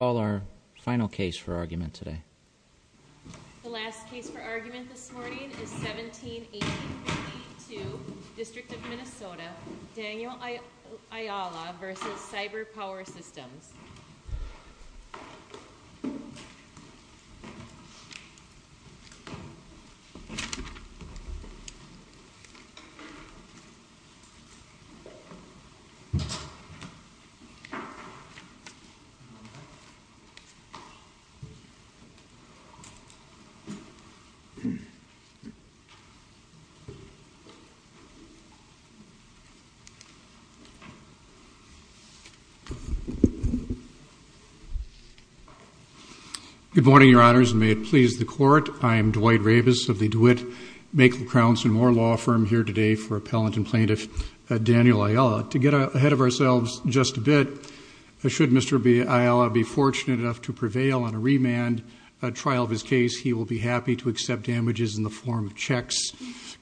The last case for argument this morning is 17-1852, District of Minnesota, Daniel Ayala v. CyberPower Systems. Good morning, Your Honors, and may it please the Court, I am Dwight Ravis of the DeWitt Macon-Crownston Moore Law Firm here today for Appellant and Plaintiff Daniel Ayala. To get ahead of ourselves just a bit, should Mr. Ayala be fortunate enough to prevail on a remand trial of his case, he will be happy to accept damages in the form of checks,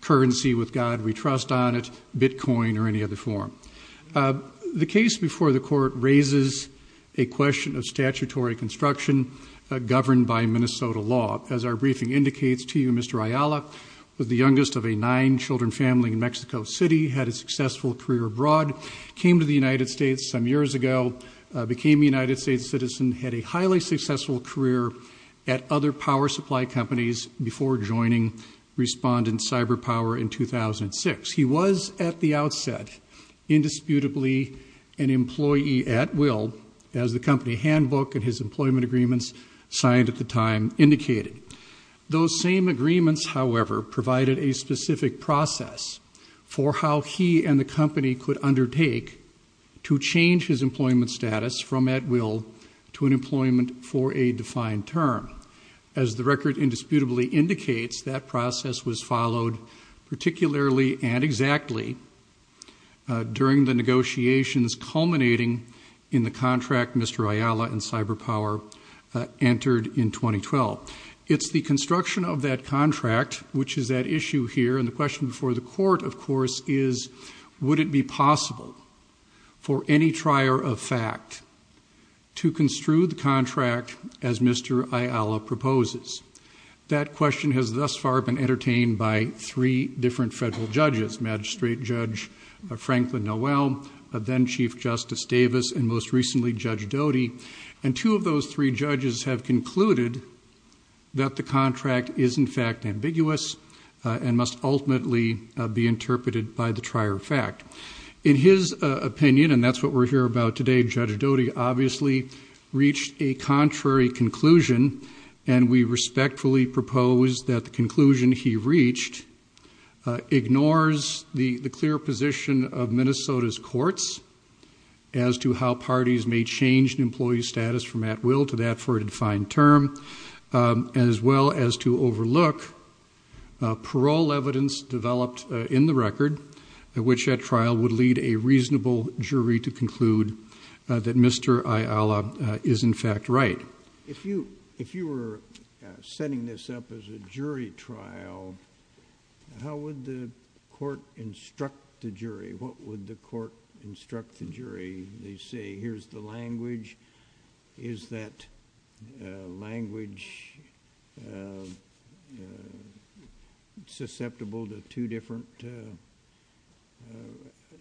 currency with God we trust on it, bitcoin or any other form. The case before the Court raises a question of statutory construction governed by Minnesota law. As our briefing indicates to you, Mr. Ayala was the youngest of a nine-children family in Mexico City, had a successful career abroad, came to the United States some years ago, became a United States citizen, had a highly successful career at other power supply companies before joining Respondent CyberPower in 2006. He was at the outset indisputably an employee at will, as the company handbook and his employment agreements signed at the time indicated. Those same agreements, however, provided a specific process for how he and the company could undertake to change his employment status from at will to an employment for a defined term. As the record indisputably indicates, that process was followed particularly and exactly during the negotiations culminating in the contract Mr. Ayala and CyberPower entered in 2012. It's the construction of that contract, which is at issue here, and the question before the Court, of course, is would it be possible for any trier of fact to construe the contract as Mr. Ayala proposes? That question has thus far been entertained by three different federal judges, Magistrate Judge Franklin Noel, then Chief Justice Davis, and most recently Judge Doty. And two of those three judges have concluded that the contract is in fact ambiguous and must ultimately be interpreted by the trier of fact. In his opinion, and that's what we're here about today, Judge Doty obviously reached a contrary conclusion, and we respectfully propose that the conclusion he reached ignores the clear position of Minnesota's courts as to how parties may change an employee's status from at will to that for a defined term, as well as to overlook parole evidence developed in the record, which at trial would lead a reasonable jury to conclude that Mr. Ayala is in fact right. If you were setting this up as a jury trial, how would the court instruct the jury? What would the court instruct the jury? They say, here's the language, is that language susceptible to two different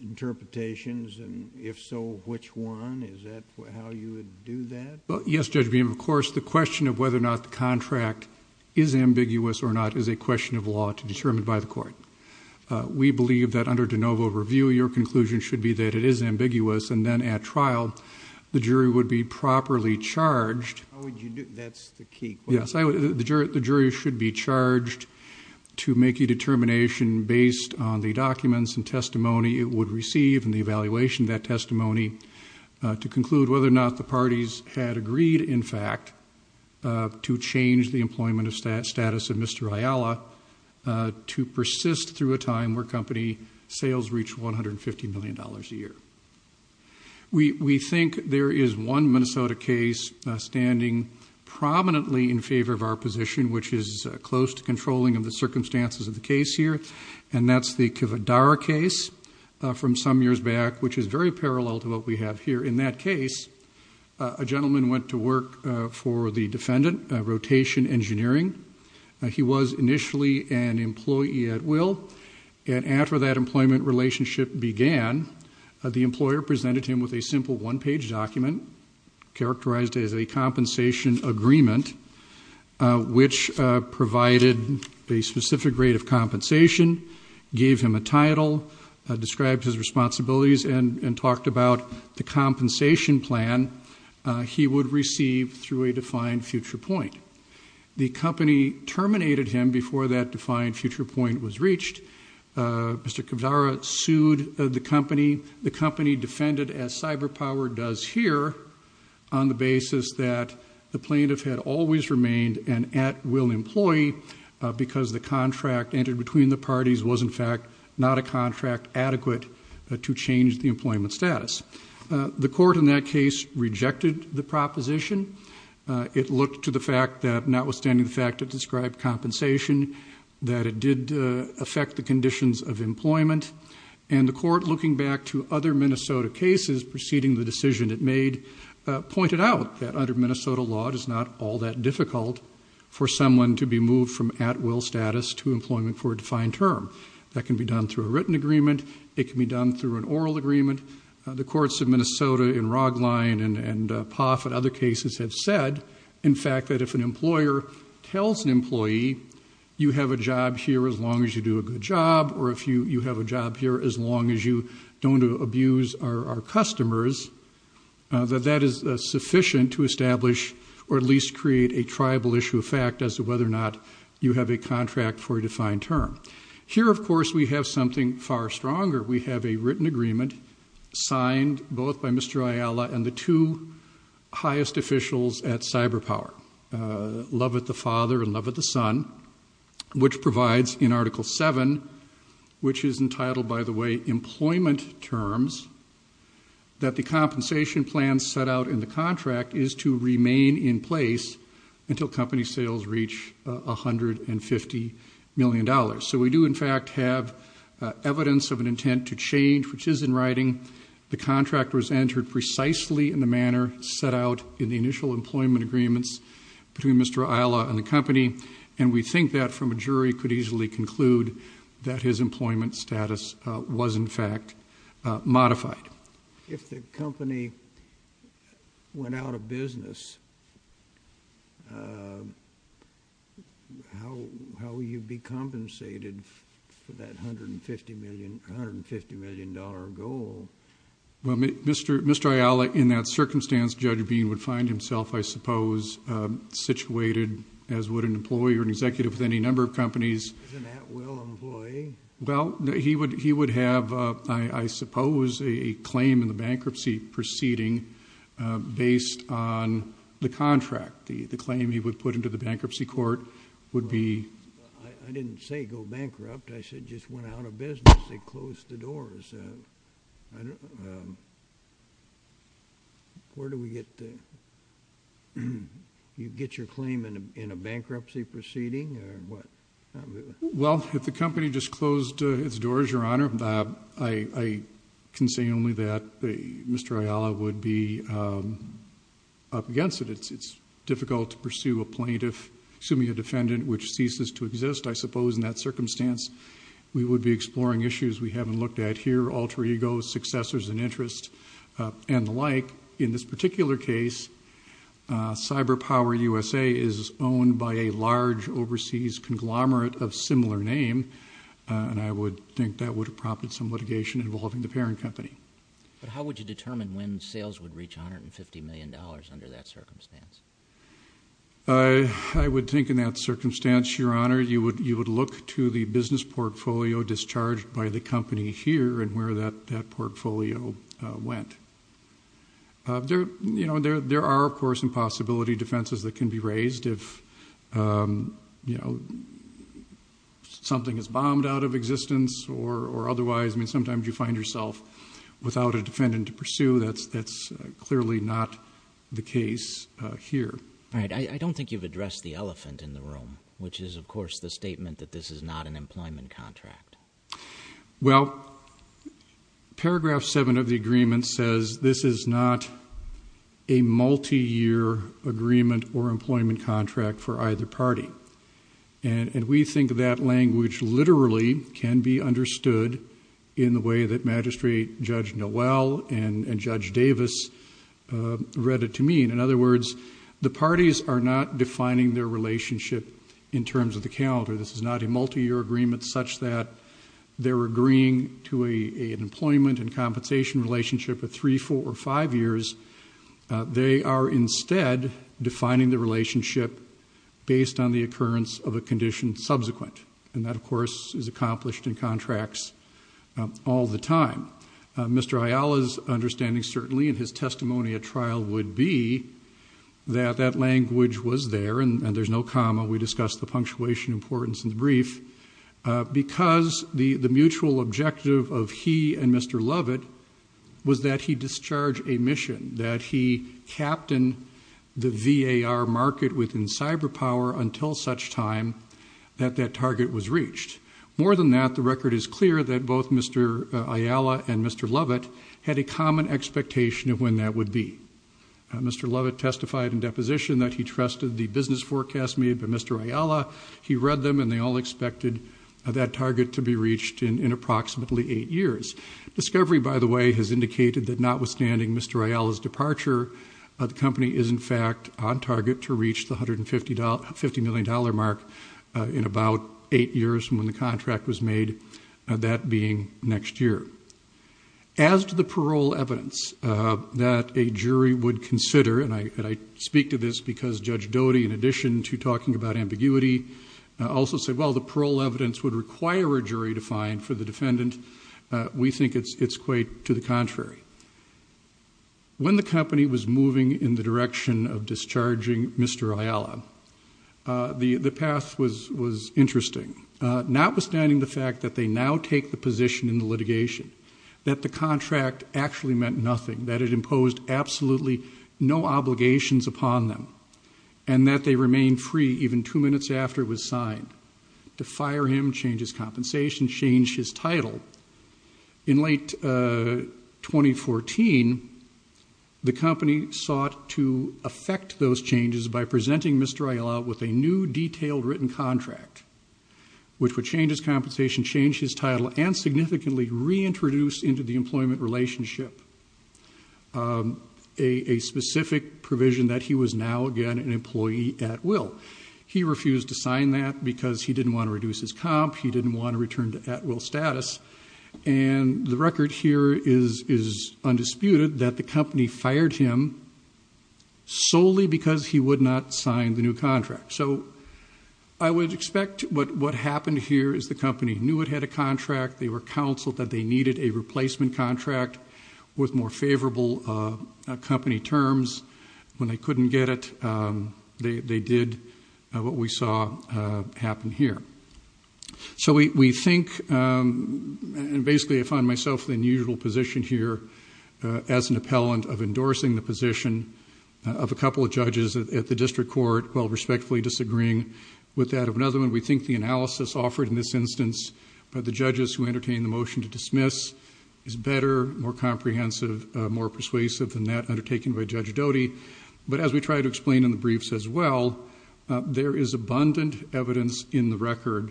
interpretations, and if so, which one? Is that how you would do that? Well, yes, Judge Beam, of course, the question of whether or not the contract is ambiguous or not is a question of law to determine by the court. We believe that under de novo review, your conclusion should be that it is ambiguous, and then at trial, the jury would be properly charged. That's the key question. Yes, the jury should be charged to make a determination based on the documents and testimony it would receive and the evaluation of that testimony, to conclude whether or not the parties had agreed, in fact, to change the employment status of Mr. Ayala to persist through a time where company sales reach $150 million a year. We think there is one Minnesota case standing prominently in favor of our position, which is close to controlling of the circumstances of the case here, and that's the Kivadar case from some years back, which is very parallel to what we have here. In that case, a gentleman went to work for the defendant, rotation engineering. He was initially an employee at will, and after that employment relationship began, the employer presented him with a simple one-page document characterized as a compensation agreement, which provided a specific rate of compensation, gave him a title, described his responsibilities, and talked about the compensation plan he would receive through a defined future point. The company terminated him before that defined future point was reached. Mr. Kivadar sued the company. The company defended, as CyberPower does here, on the basis that the plaintiff had always remained an at-will employee because the contract entered between the parties was, in fact, not a contract adequate to change the employment status. The court in that case rejected the proposition. It looked to the fact that, notwithstanding the fact it described compensation, that it did affect the conditions of employment, and the court, looking back to other Minnesota cases preceding the decision it made, pointed out that under Minnesota law, it is not all that difficult for someone to be moved from at-will status to employment for a defined term. That can be done through a written agreement. It can be done through an oral agreement. The courts of Minnesota in Rogline and Poff and other cases have said, in fact, that if an employer tells an employee, you have a job here as long as you do a good job, or you have a job here as long as you don't abuse our customers, that that is sufficient to establish or at least create a tribal issue of fact as to whether or not you have a contract for a defined term. Here, of course, we have something far stronger. We have a written agreement signed both by Mr. Ayala and the two highest officials at CyberPower, Love of the Father and Love of the Son, which provides in Article 7, which is entitled, by the way, Employment Terms, that the compensation plan set out in the contract is to remain in place until company sales reach $150 million. So we do, in fact, have evidence of an intent to change, which is in writing. The contract was entered precisely in the manner set out in the initial employment agreements between Mr. Ayala and the company, and we think that from a jury could easily conclude that his employment status was, in fact, modified. If the company went out of business, how will you be compensated for that $150 million goal? Well, Mr. Ayala, in that circumstance, Judge Bean would find himself, I suppose, situated as would an employee or an executive with any number of companies. Isn't that Will Employee? Well, he would have, I suppose, a claim in the bankruptcy proceeding based on the contract. The claim he would put into the bankruptcy court would be- I didn't say go bankrupt. I said just went out of business and closed the doors. Where do we get the-you get your claim in a bankruptcy proceeding or what? Well, if the company just closed its doors, Your Honor, I can say only that Mr. Ayala would be up against it. It's difficult to pursue a plaintiff, assuming a defendant, which ceases to exist, I suppose, in that circumstance. We would be exploring issues we haven't looked at here, alter egos, successors in interest, and the like. In this particular case, Cyber Power USA is owned by a large overseas conglomerate of similar name, and I would think that would have prompted some litigation involving the parent company. But how would you determine when sales would reach $150 million under that circumstance? I would think in that circumstance, Your Honor, you would look to the business portfolio discharged by the company here and where that portfolio went. There are, of course, impossibility defenses that can be raised if something is bombed out of existence or otherwise. I mean, sometimes you find yourself without a defendant to pursue. That's clearly not the case here. All right, I don't think you've addressed the elephant in the room, which is, of course, the statement that this is not an employment contract. Well, paragraph 7 of the agreement says this is not a multi-year agreement or employment contract for either party. And we think that language literally can be understood in the way that Magistrate Judge Noel and Judge Davis read it to me. In other words, the parties are not defining their relationship in terms of the calendar. This is not a multi-year agreement such that they're agreeing to an employment and compensation relationship of three, four, or five years. They are instead defining the relationship based on the occurrence of a condition subsequent. And that, of course, is accomplished in contracts all the time. Mr. Ayala's understanding certainly in his testimony at trial would be that that language was there, and there's no comma. We discussed the punctuation importance in the brief. Because the mutual objective of he and Mr. Lovett was that he discharge a mission, that he captain the VAR market within cyber power until such time that that target was reached. More than that, the record is clear that both Mr. Ayala and Mr. Lovett had a common expectation of when that would be. Mr. Lovett testified in deposition that he trusted the business forecast made by Mr. Ayala. He read them, and they all expected that target to be reached in approximately eight years. Discovery, by the way, has indicated that notwithstanding Mr. Ayala's departure, the company is, in fact, on target to reach the $150 million mark in about eight years from when the contract was made, that being next year. As to the parole evidence that a jury would consider, and I speak to this because Judge Doty, in addition to talking about ambiguity, also said, well, the parole evidence would require a jury to find for the defendant. We think it's quite to the contrary. When the company was moving in the direction of discharging Mr. Ayala, the path was interesting. Notwithstanding the fact that they now take the position in the litigation, that the contract actually meant nothing, that it imposed absolutely no obligations upon them, and that they remained free even two minutes after it was signed to fire him, change his compensation, change his title. In late 2014, the company sought to affect those changes by presenting Mr. Ayala with a new detailed written contract, which would change his compensation, change his title, and significantly reintroduce into the employment relationship a specific provision that he was now again an employee at will. He refused to sign that because he didn't want to reduce his comp. He didn't want to return to at will status. And the record here is undisputed that the company fired him solely because he would not sign the new contract. So I would expect what happened here is the company knew it had a contract. They were counseled that they needed a replacement contract with more favorable company terms. When they couldn't get it, they did what we saw happen here. So we think, and basically I find myself in the unusual position here as an appellant of endorsing the position of a couple of judges at the district court, while respectfully disagreeing with that of another one. We think the analysis offered in this instance by the judges who entertained the motion to dismiss is better, more comprehensive, more persuasive than that undertaken by Judge Doty. But as we try to explain in the briefs as well, there is abundant evidence in the record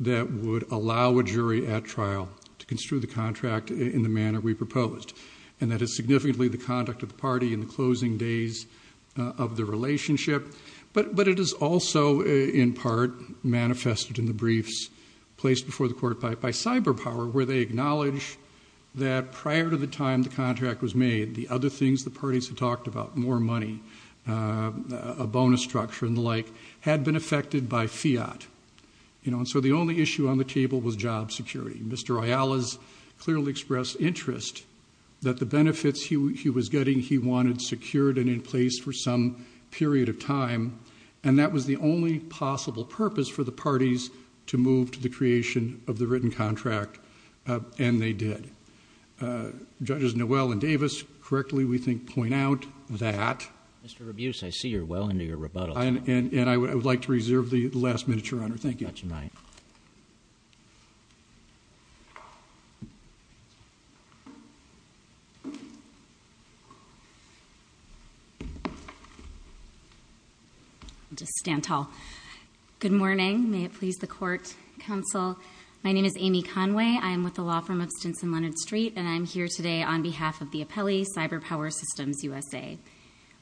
that would allow a jury at trial to construe the contract in the manner we proposed. And that is significantly the conduct of the party in the closing days of the relationship. But it is also, in part, manifested in the briefs placed before the court by CyberPower, where they acknowledge that prior to the time the contract was made, the other things the parties had talked about, more money, a bonus structure and the like, had been affected by fiat. And so the only issue on the table was job security. Mr. Ayala's clearly expressed interest that the benefits he was getting he wanted secured and in place for some period of time. And that was the only possible purpose for the parties to move to the creation of the written contract. And they did. Judges Noel and Davis, correctly, we think, point out that- Mr. Rabuse, I see you're well into your rebuttal. And I would like to reserve the last minute, Your Honor. Thank you. Thank you very much, and good night. I'll just stand tall. Good morning. May it please the court, counsel. My name is Amy Conway. I am with the law firm of Stinson Leonard Street. And I am here today on behalf of the appellee, CyberPower Systems USA.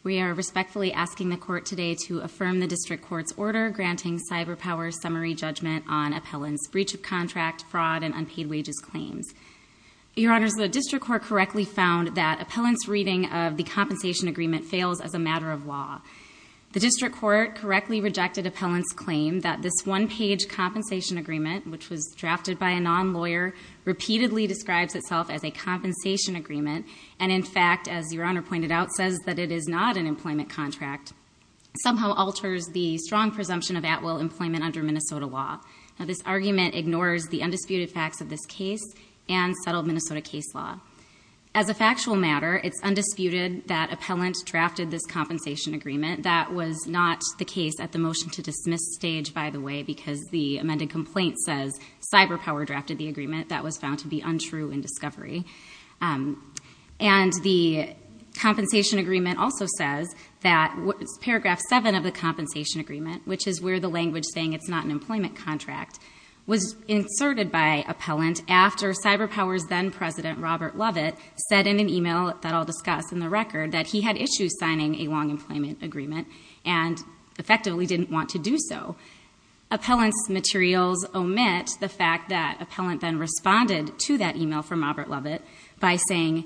We are respectfully asking the court today to affirm the district court's order granting CyberPower's summary judgment on appellant's breach of contract, fraud and unpaid wages claims. Your Honor, the district court correctly found that appellant's reading of the compensation agreement fails as a matter of law. The district court correctly rejected appellant's claim that this one-page compensation agreement, which was drafted by a non-lawyer, repeatedly describes itself as a compensation agreement. And, in fact, as Your Honor pointed out, says that it is not an employment contract, somehow alters the strong presumption of at-will employment under Minnesota law. Now, this argument ignores the undisputed facts of this case and settled Minnesota case law. As a factual matter, it's undisputed that appellant drafted this compensation agreement. That was not the case at the motion-to-dismiss stage, by the way, because the amended complaint says CyberPower drafted the agreement. That was found to be untrue in discovery. And the compensation agreement also says that paragraph 7 of the compensation agreement, which is where the language saying it's not an employment contract, was inserted by appellant after CyberPower's then-president, Robert Lovett, said in an email that I'll discuss in the record, that he had issues signing a long employment agreement and effectively didn't want to do so. Appellant's materials omit the fact that appellant then responded to that email from Robert Lovett by saying,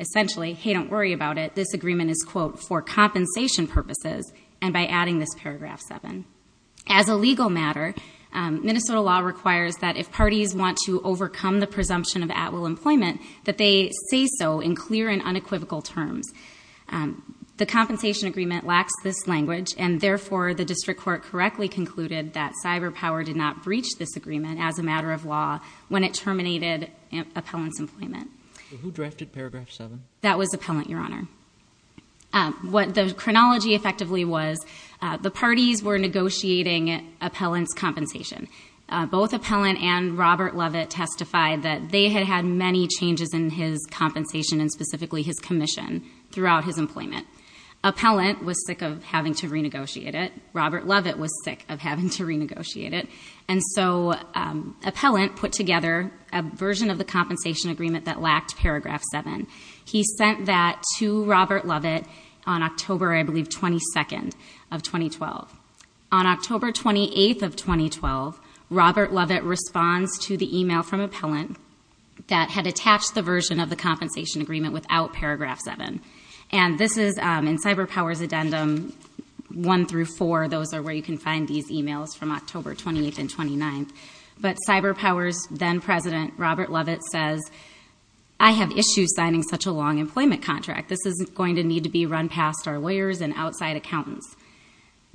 essentially, hey, don't worry about it, this agreement is, quote, for compensation purposes, and by adding this paragraph 7. As a legal matter, Minnesota law requires that if parties want to overcome the presumption of at-will employment, that they say so in clear and unequivocal terms. The compensation agreement lacks this language, and, therefore, the district court correctly concluded that CyberPower did not breach this agreement as a matter of law when it terminated appellant's employment. Who drafted paragraph 7? That was appellant, Your Honor. What the chronology effectively was, the parties were negotiating appellant's compensation. Both appellant and Robert Lovett testified that they had had many changes in his compensation and, specifically, his commission throughout his employment. Appellant was sick of having to renegotiate it. Robert Lovett was sick of having to renegotiate it. And so appellant put together a version of the compensation agreement that lacked paragraph 7. He sent that to Robert Lovett on October, I believe, 22nd of 2012. On October 28th of 2012, Robert Lovett responds to the email from appellant that had attached the version of the compensation agreement without paragraph 7. And this is in CyberPower's addendum 1 through 4. Those are where you can find these emails from October 28th and 29th. But CyberPower's then president, Robert Lovett, says, I have issues signing such a long employment contract. This is going to need to be run past our lawyers and outside accountants.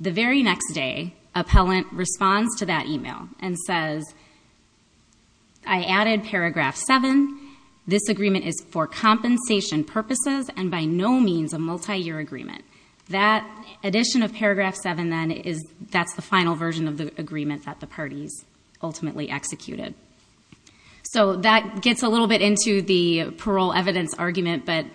The very next day, appellant responds to that email and says, I added paragraph 7. This agreement is for compensation purposes and by no means a multiyear agreement. That addition of paragraph 7, then, that's the final version of the agreement that the parties ultimately executed. So that gets a little bit into the parole evidence argument. But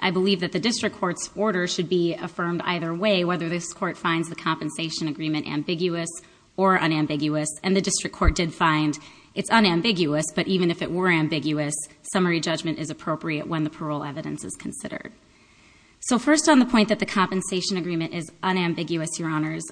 I believe that the district court's order should be affirmed either way, whether this court finds the compensation agreement ambiguous or unambiguous. And the district court did find it's unambiguous. But even if it were ambiguous, summary judgment is appropriate when the parole evidence is considered. So first on the point that the compensation agreement is unambiguous, Your Honors,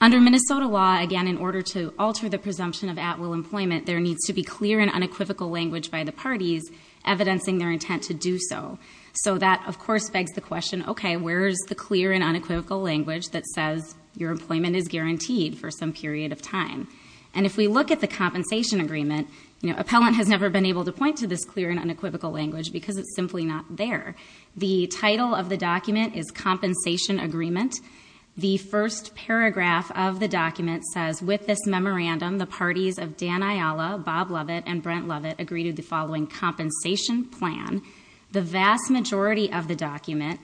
under Minnesota law, again, in order to alter the presumption of at-will employment, there needs to be clear and unequivocal language by the parties evidencing their intent to do so. So that, of course, begs the question, okay, where's the clear and unequivocal language that says your employment is guaranteed for some period of time? And if we look at the compensation agreement, appellant has never been able to point to this clear and unequivocal language because it's simply not there. The title of the document is Compensation Agreement. The first paragraph of the document says, With this memorandum, the parties of Dan Ayala, Bob Lovett, and Brent Lovett agreed to the following compensation plan. The vast majority of the document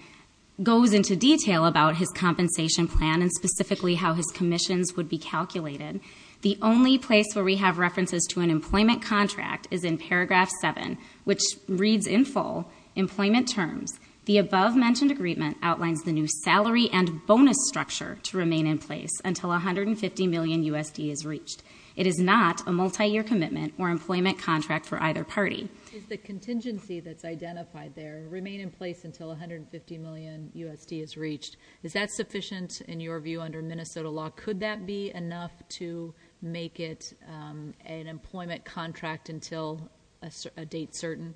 goes into detail about his compensation plan and specifically how his commissions would be calculated. The only place where we have references to an employment contract is in Paragraph 7, which reads in full, Employment Terms. The above-mentioned agreement outlines the new salary and bonus structure to remain in place until $150 million USD is reached. It is not a multi-year commitment or employment contract for either party. The contingency that's identified there, remain in place until $150 million USD is reached, is that sufficient in your view under Minnesota law? Could that be enough to make it an employment contract until a date certain?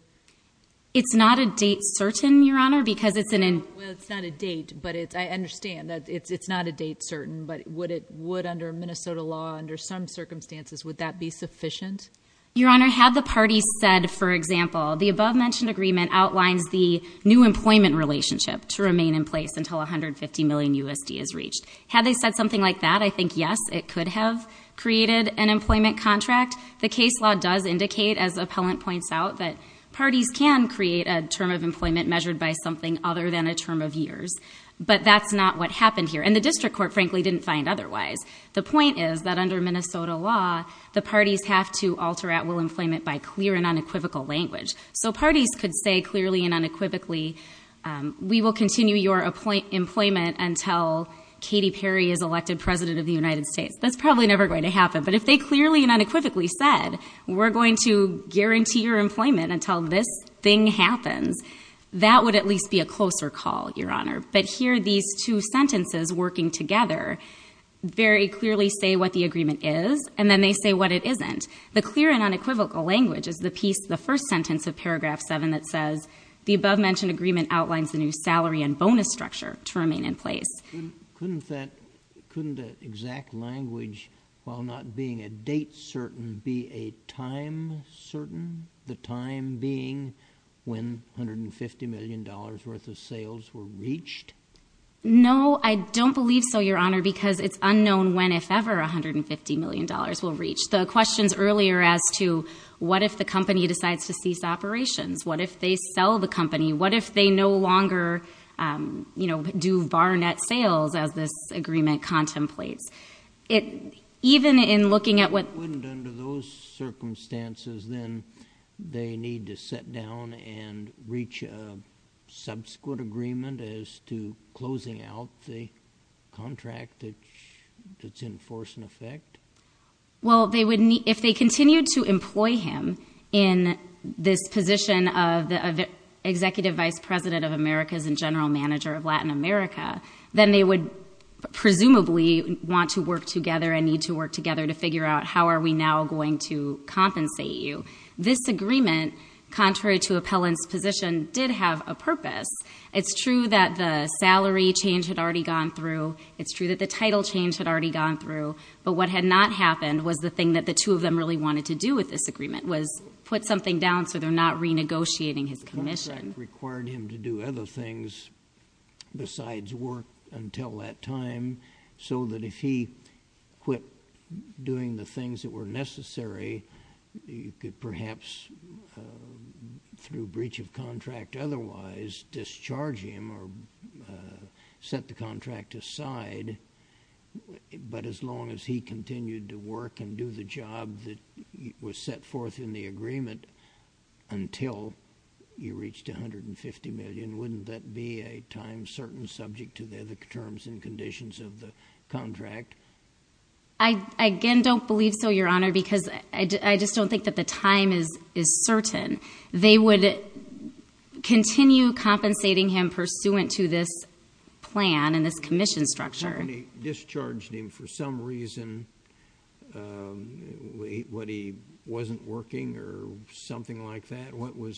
It's not a date certain, Your Honor, because it's an... Well, it's not a date, but I understand that it's not a date certain, but would under Minnesota law, under some circumstances, would that be sufficient? Your Honor, had the parties said, for example, the above-mentioned agreement outlines the new employment relationship to remain in place until $150 million USD is reached. Had they said something like that, I think, yes, it could have created an employment contract. In fact, the case law does indicate, as the appellant points out, that parties can create a term of employment measured by something other than a term of years. But that's not what happened here. And the district court, frankly, didn't find otherwise. The point is that under Minnesota law, the parties have to alter at-will employment by clear and unequivocal language. So parties could say clearly and unequivocally, we will continue your employment until Katy Perry is elected President of the United States. That's probably never going to happen. But if they clearly and unequivocally said, we're going to guarantee your employment until this thing happens, that would at least be a closer call, Your Honor. But here, these two sentences working together very clearly say what the agreement is, and then they say what it isn't. The clear and unequivocal language is the piece, the first sentence of paragraph 7 that says, the above-mentioned agreement outlines the new salary and bonus structure to remain in place. Couldn't that exact language, while not being a date certain, be a time certain? The time being when $150 million worth of sales were reached? No, I don't believe so, Your Honor, because it's unknown when, if ever, $150 million will reach. The questions earlier as to what if the company decides to cease operations? What if they sell the company? What if they no longer, you know, do bar net sales as this agreement contemplates? Even in looking at what- Under those circumstances, then they need to sit down and reach a subsequent agreement as to closing out the contract that's in force and effect? Well, if they continued to employ him in this position of Executive Vice President of America and General Manager of Latin America, then they would presumably want to work together and need to work together to figure out how are we now going to compensate you. This agreement, contrary to Appellant's position, did have a purpose. It's true that the salary change had already gone through. It's true that the title change had already gone through. But what had not happened was the thing that the two of them really wanted to do with this agreement was put something down so they're not renegotiating his commission. The contract required him to do other things besides work until that time so that if he quit doing the things that were necessary, you could perhaps, through breach of contract otherwise, discharge him or set the contract aside. But as long as he continued to work and do the job that was set forth in the agreement until you reached $150 million, wouldn't that be a time certain subject to the terms and conditions of the contract? I again don't believe so, Your Honor, because I just don't think that the time is certain. They would continue compensating him pursuant to this plan and this commission structure. When they discharged him for some reason, when he wasn't working or something like that, what were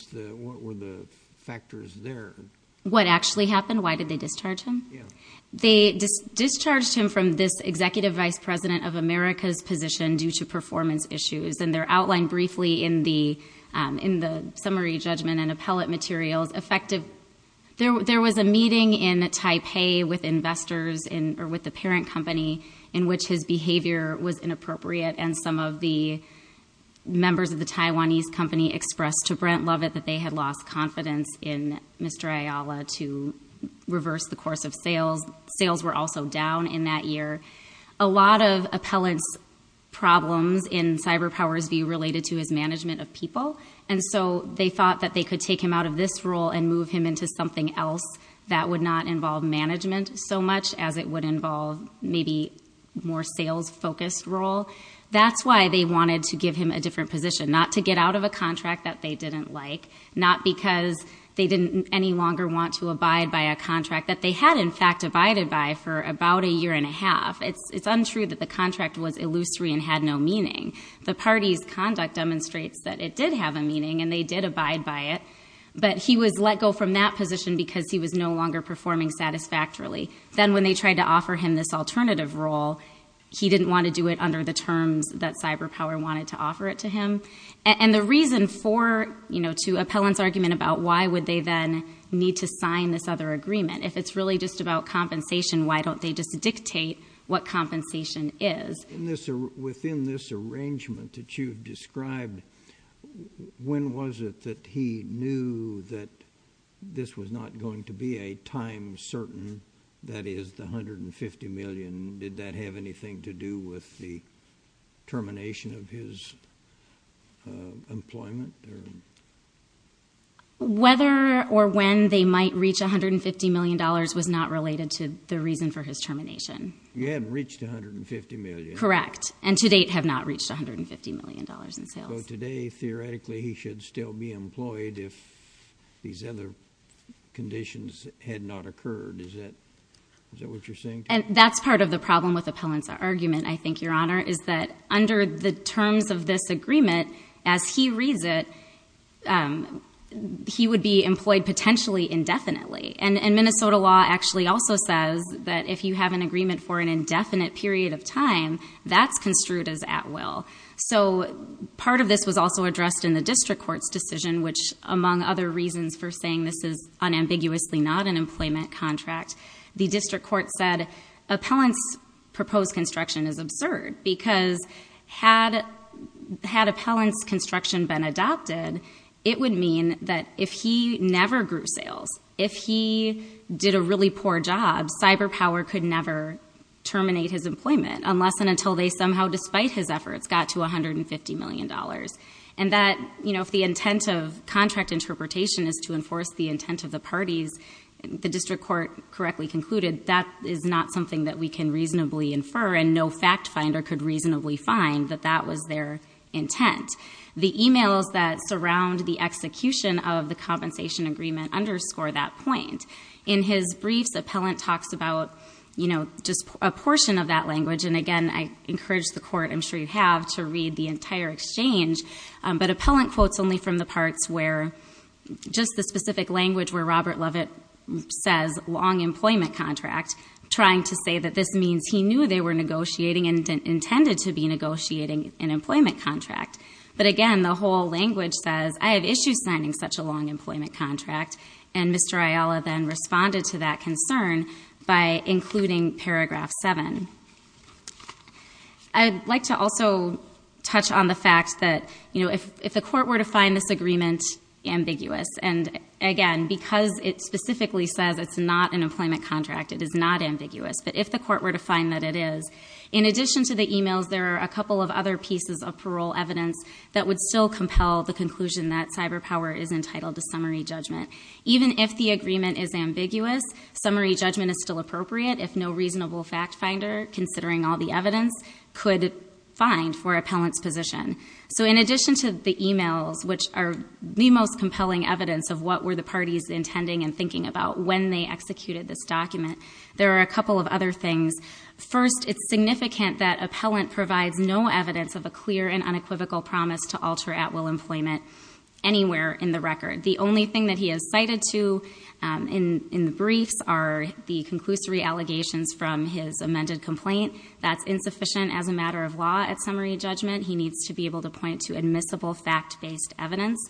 the factors there? What actually happened? Why did they discharge him? They discharged him from this executive vice president of America's position due to performance issues. They're outlined briefly in the summary judgment and appellate materials. There was a meeting in Taipei with the parent company in which his behavior was inappropriate and some of the members of the Taiwanese company expressed to Brent Lovett that they had lost confidence in Mr. Ayala to reverse the course of sales. Sales were also down in that year. A lot of appellant's problems in CyberPower's view related to his management of people, and so they thought that they could take him out of this role and move him into something else that would not involve management so much as it would involve maybe more sales-focused role. That's why they wanted to give him a different position, not to get out of a contract that they didn't like, that they had in fact abided by for about a year and a half. It's untrue that the contract was illusory and had no meaning. The party's conduct demonstrates that it did have a meaning and they did abide by it, but he was let go from that position because he was no longer performing satisfactorily. Then when they tried to offer him this alternative role, he didn't want to do it under the terms that CyberPower wanted to offer it to him. And the reason for, you know, to appellant's argument about why would they then need to sign this other agreement, if it's really just about compensation, why don't they just dictate what compensation is? Within this arrangement that you've described, when was it that he knew that this was not going to be a time certain, that is, the $150 million? Did that have anything to do with the termination of his employment? Whether or when they might reach $150 million was not related to the reason for his termination. You hadn't reached $150 million. Correct, and to date have not reached $150 million in sales. So today, theoretically, he should still be employed if these other conditions had not occurred. Is that what you're saying? That's part of the problem with appellant's argument, I think, Your Honor, is that under the terms of this agreement, as he reads it, he would be employed potentially indefinitely. And Minnesota law actually also says that if you have an agreement for an indefinite period of time, that's construed as at will. So part of this was also addressed in the district court's decision, which among other reasons for saying this is unambiguously not an employment contract, the district court said appellant's proposed construction is absurd because had appellant's construction been adopted, it would mean that if he never grew sales, if he did a really poor job, CyberPower could never terminate his employment unless and until they somehow, despite his efforts, got to $150 million. And that if the intent of contract interpretation is to enforce the intent of the parties, as the district court correctly concluded, that is not something that we can reasonably infer and no fact finder could reasonably find that that was their intent. The e-mails that surround the execution of the compensation agreement underscore that point. In his briefs, appellant talks about just a portion of that language, and again, I encourage the court, I'm sure you have, to read the entire exchange, but appellant quotes only from the parts where just the specific language where Robert Lovett says long employment contract, trying to say that this means he knew they were negotiating and intended to be negotiating an employment contract. But again, the whole language says I have issues signing such a long employment contract, and Mr. Ayala then responded to that concern by including paragraph 7. I'd like to also touch on the fact that if the court were to find this agreement ambiguous, and again, because it specifically says it's not an employment contract, it is not ambiguous, but if the court were to find that it is, in addition to the e-mails, there are a couple of other pieces of parole evidence that would still compel the conclusion that cyber power is entitled to summary judgment. Even if the agreement is ambiguous, summary judgment is still appropriate if no reasonable fact finder, considering all the evidence, could find for appellant's position. So in addition to the e-mails, which are the most compelling evidence of what were the parties intending and thinking about when they executed this document, there are a couple of other things. First, it's significant that appellant provides no evidence of a clear and unequivocal promise to alter at-will employment anywhere in the record. The only thing that he has cited to in the briefs are the conclusory allegations from his amended complaint. That's insufficient as a matter of law at summary judgment. He needs to be able to point to admissible fact-based evidence.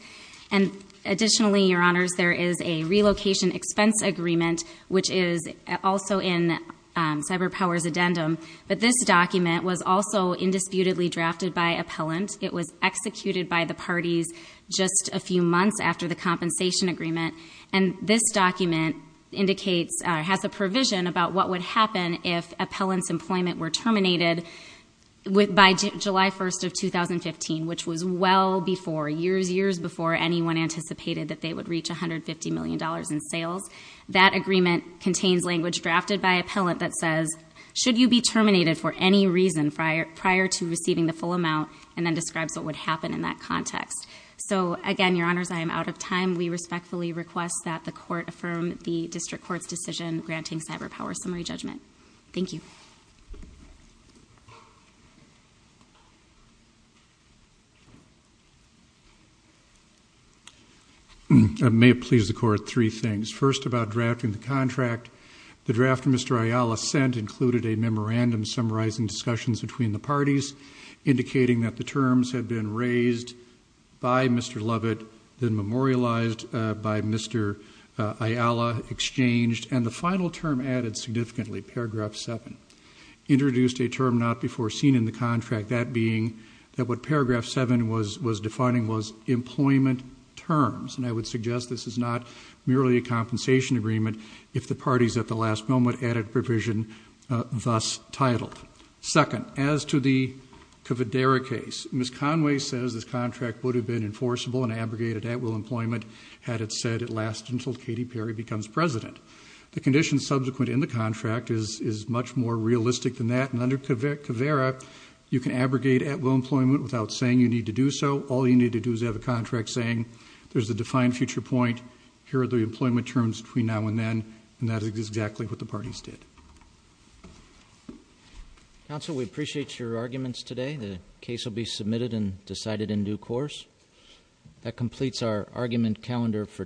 And additionally, Your Honors, there is a relocation expense agreement, which is also in cyber power's addendum, but this document was also indisputably drafted by appellant. It was executed by the parties just a few months after the compensation agreement, and this document indicates or has a provision about what would happen if appellant's employment were terminated by July 1st of 2015, which was well before, years, years before anyone anticipated that they would reach $150 million in sales. That agreement contains language drafted by appellant that says, should you be terminated for any reason prior to receiving the full amount, and then describes what would happen in that context. So, again, Your Honors, I am out of time. We respectfully request that the court affirm the district court's decision granting cyber power summary judgment. Thank you. I may please the court three things. First, about drafting the contract. The draft Mr. Ayala sent included a memorandum summarizing discussions between the parties, indicating that the terms had been raised by Mr. Lovett, then memorialized by Mr. Ayala, exchanged, and the final term added significantly, paragraph 7, introduced a term not before seen in the contract, that being that what paragraph 7 was defining was employment terms. And I would suggest this is not merely a compensation agreement if the parties at the last moment added provision thus titled. Second, as to the Caveira case, Ms. Conway says this contract would have been enforceable and abrogated at will employment had it said it lasted until Katy Perry becomes president. The conditions subsequent in the contract is much more realistic than that. And under Caveira, you can abrogate at will employment without saying you need to do so. All you need to do is have a contract saying there's a defined future point. Here are the employment terms between now and then. And that is exactly what the parties did. Counsel, we appreciate your arguments today. The case will be submitted and decided in due course. That completes our argument calendar for today.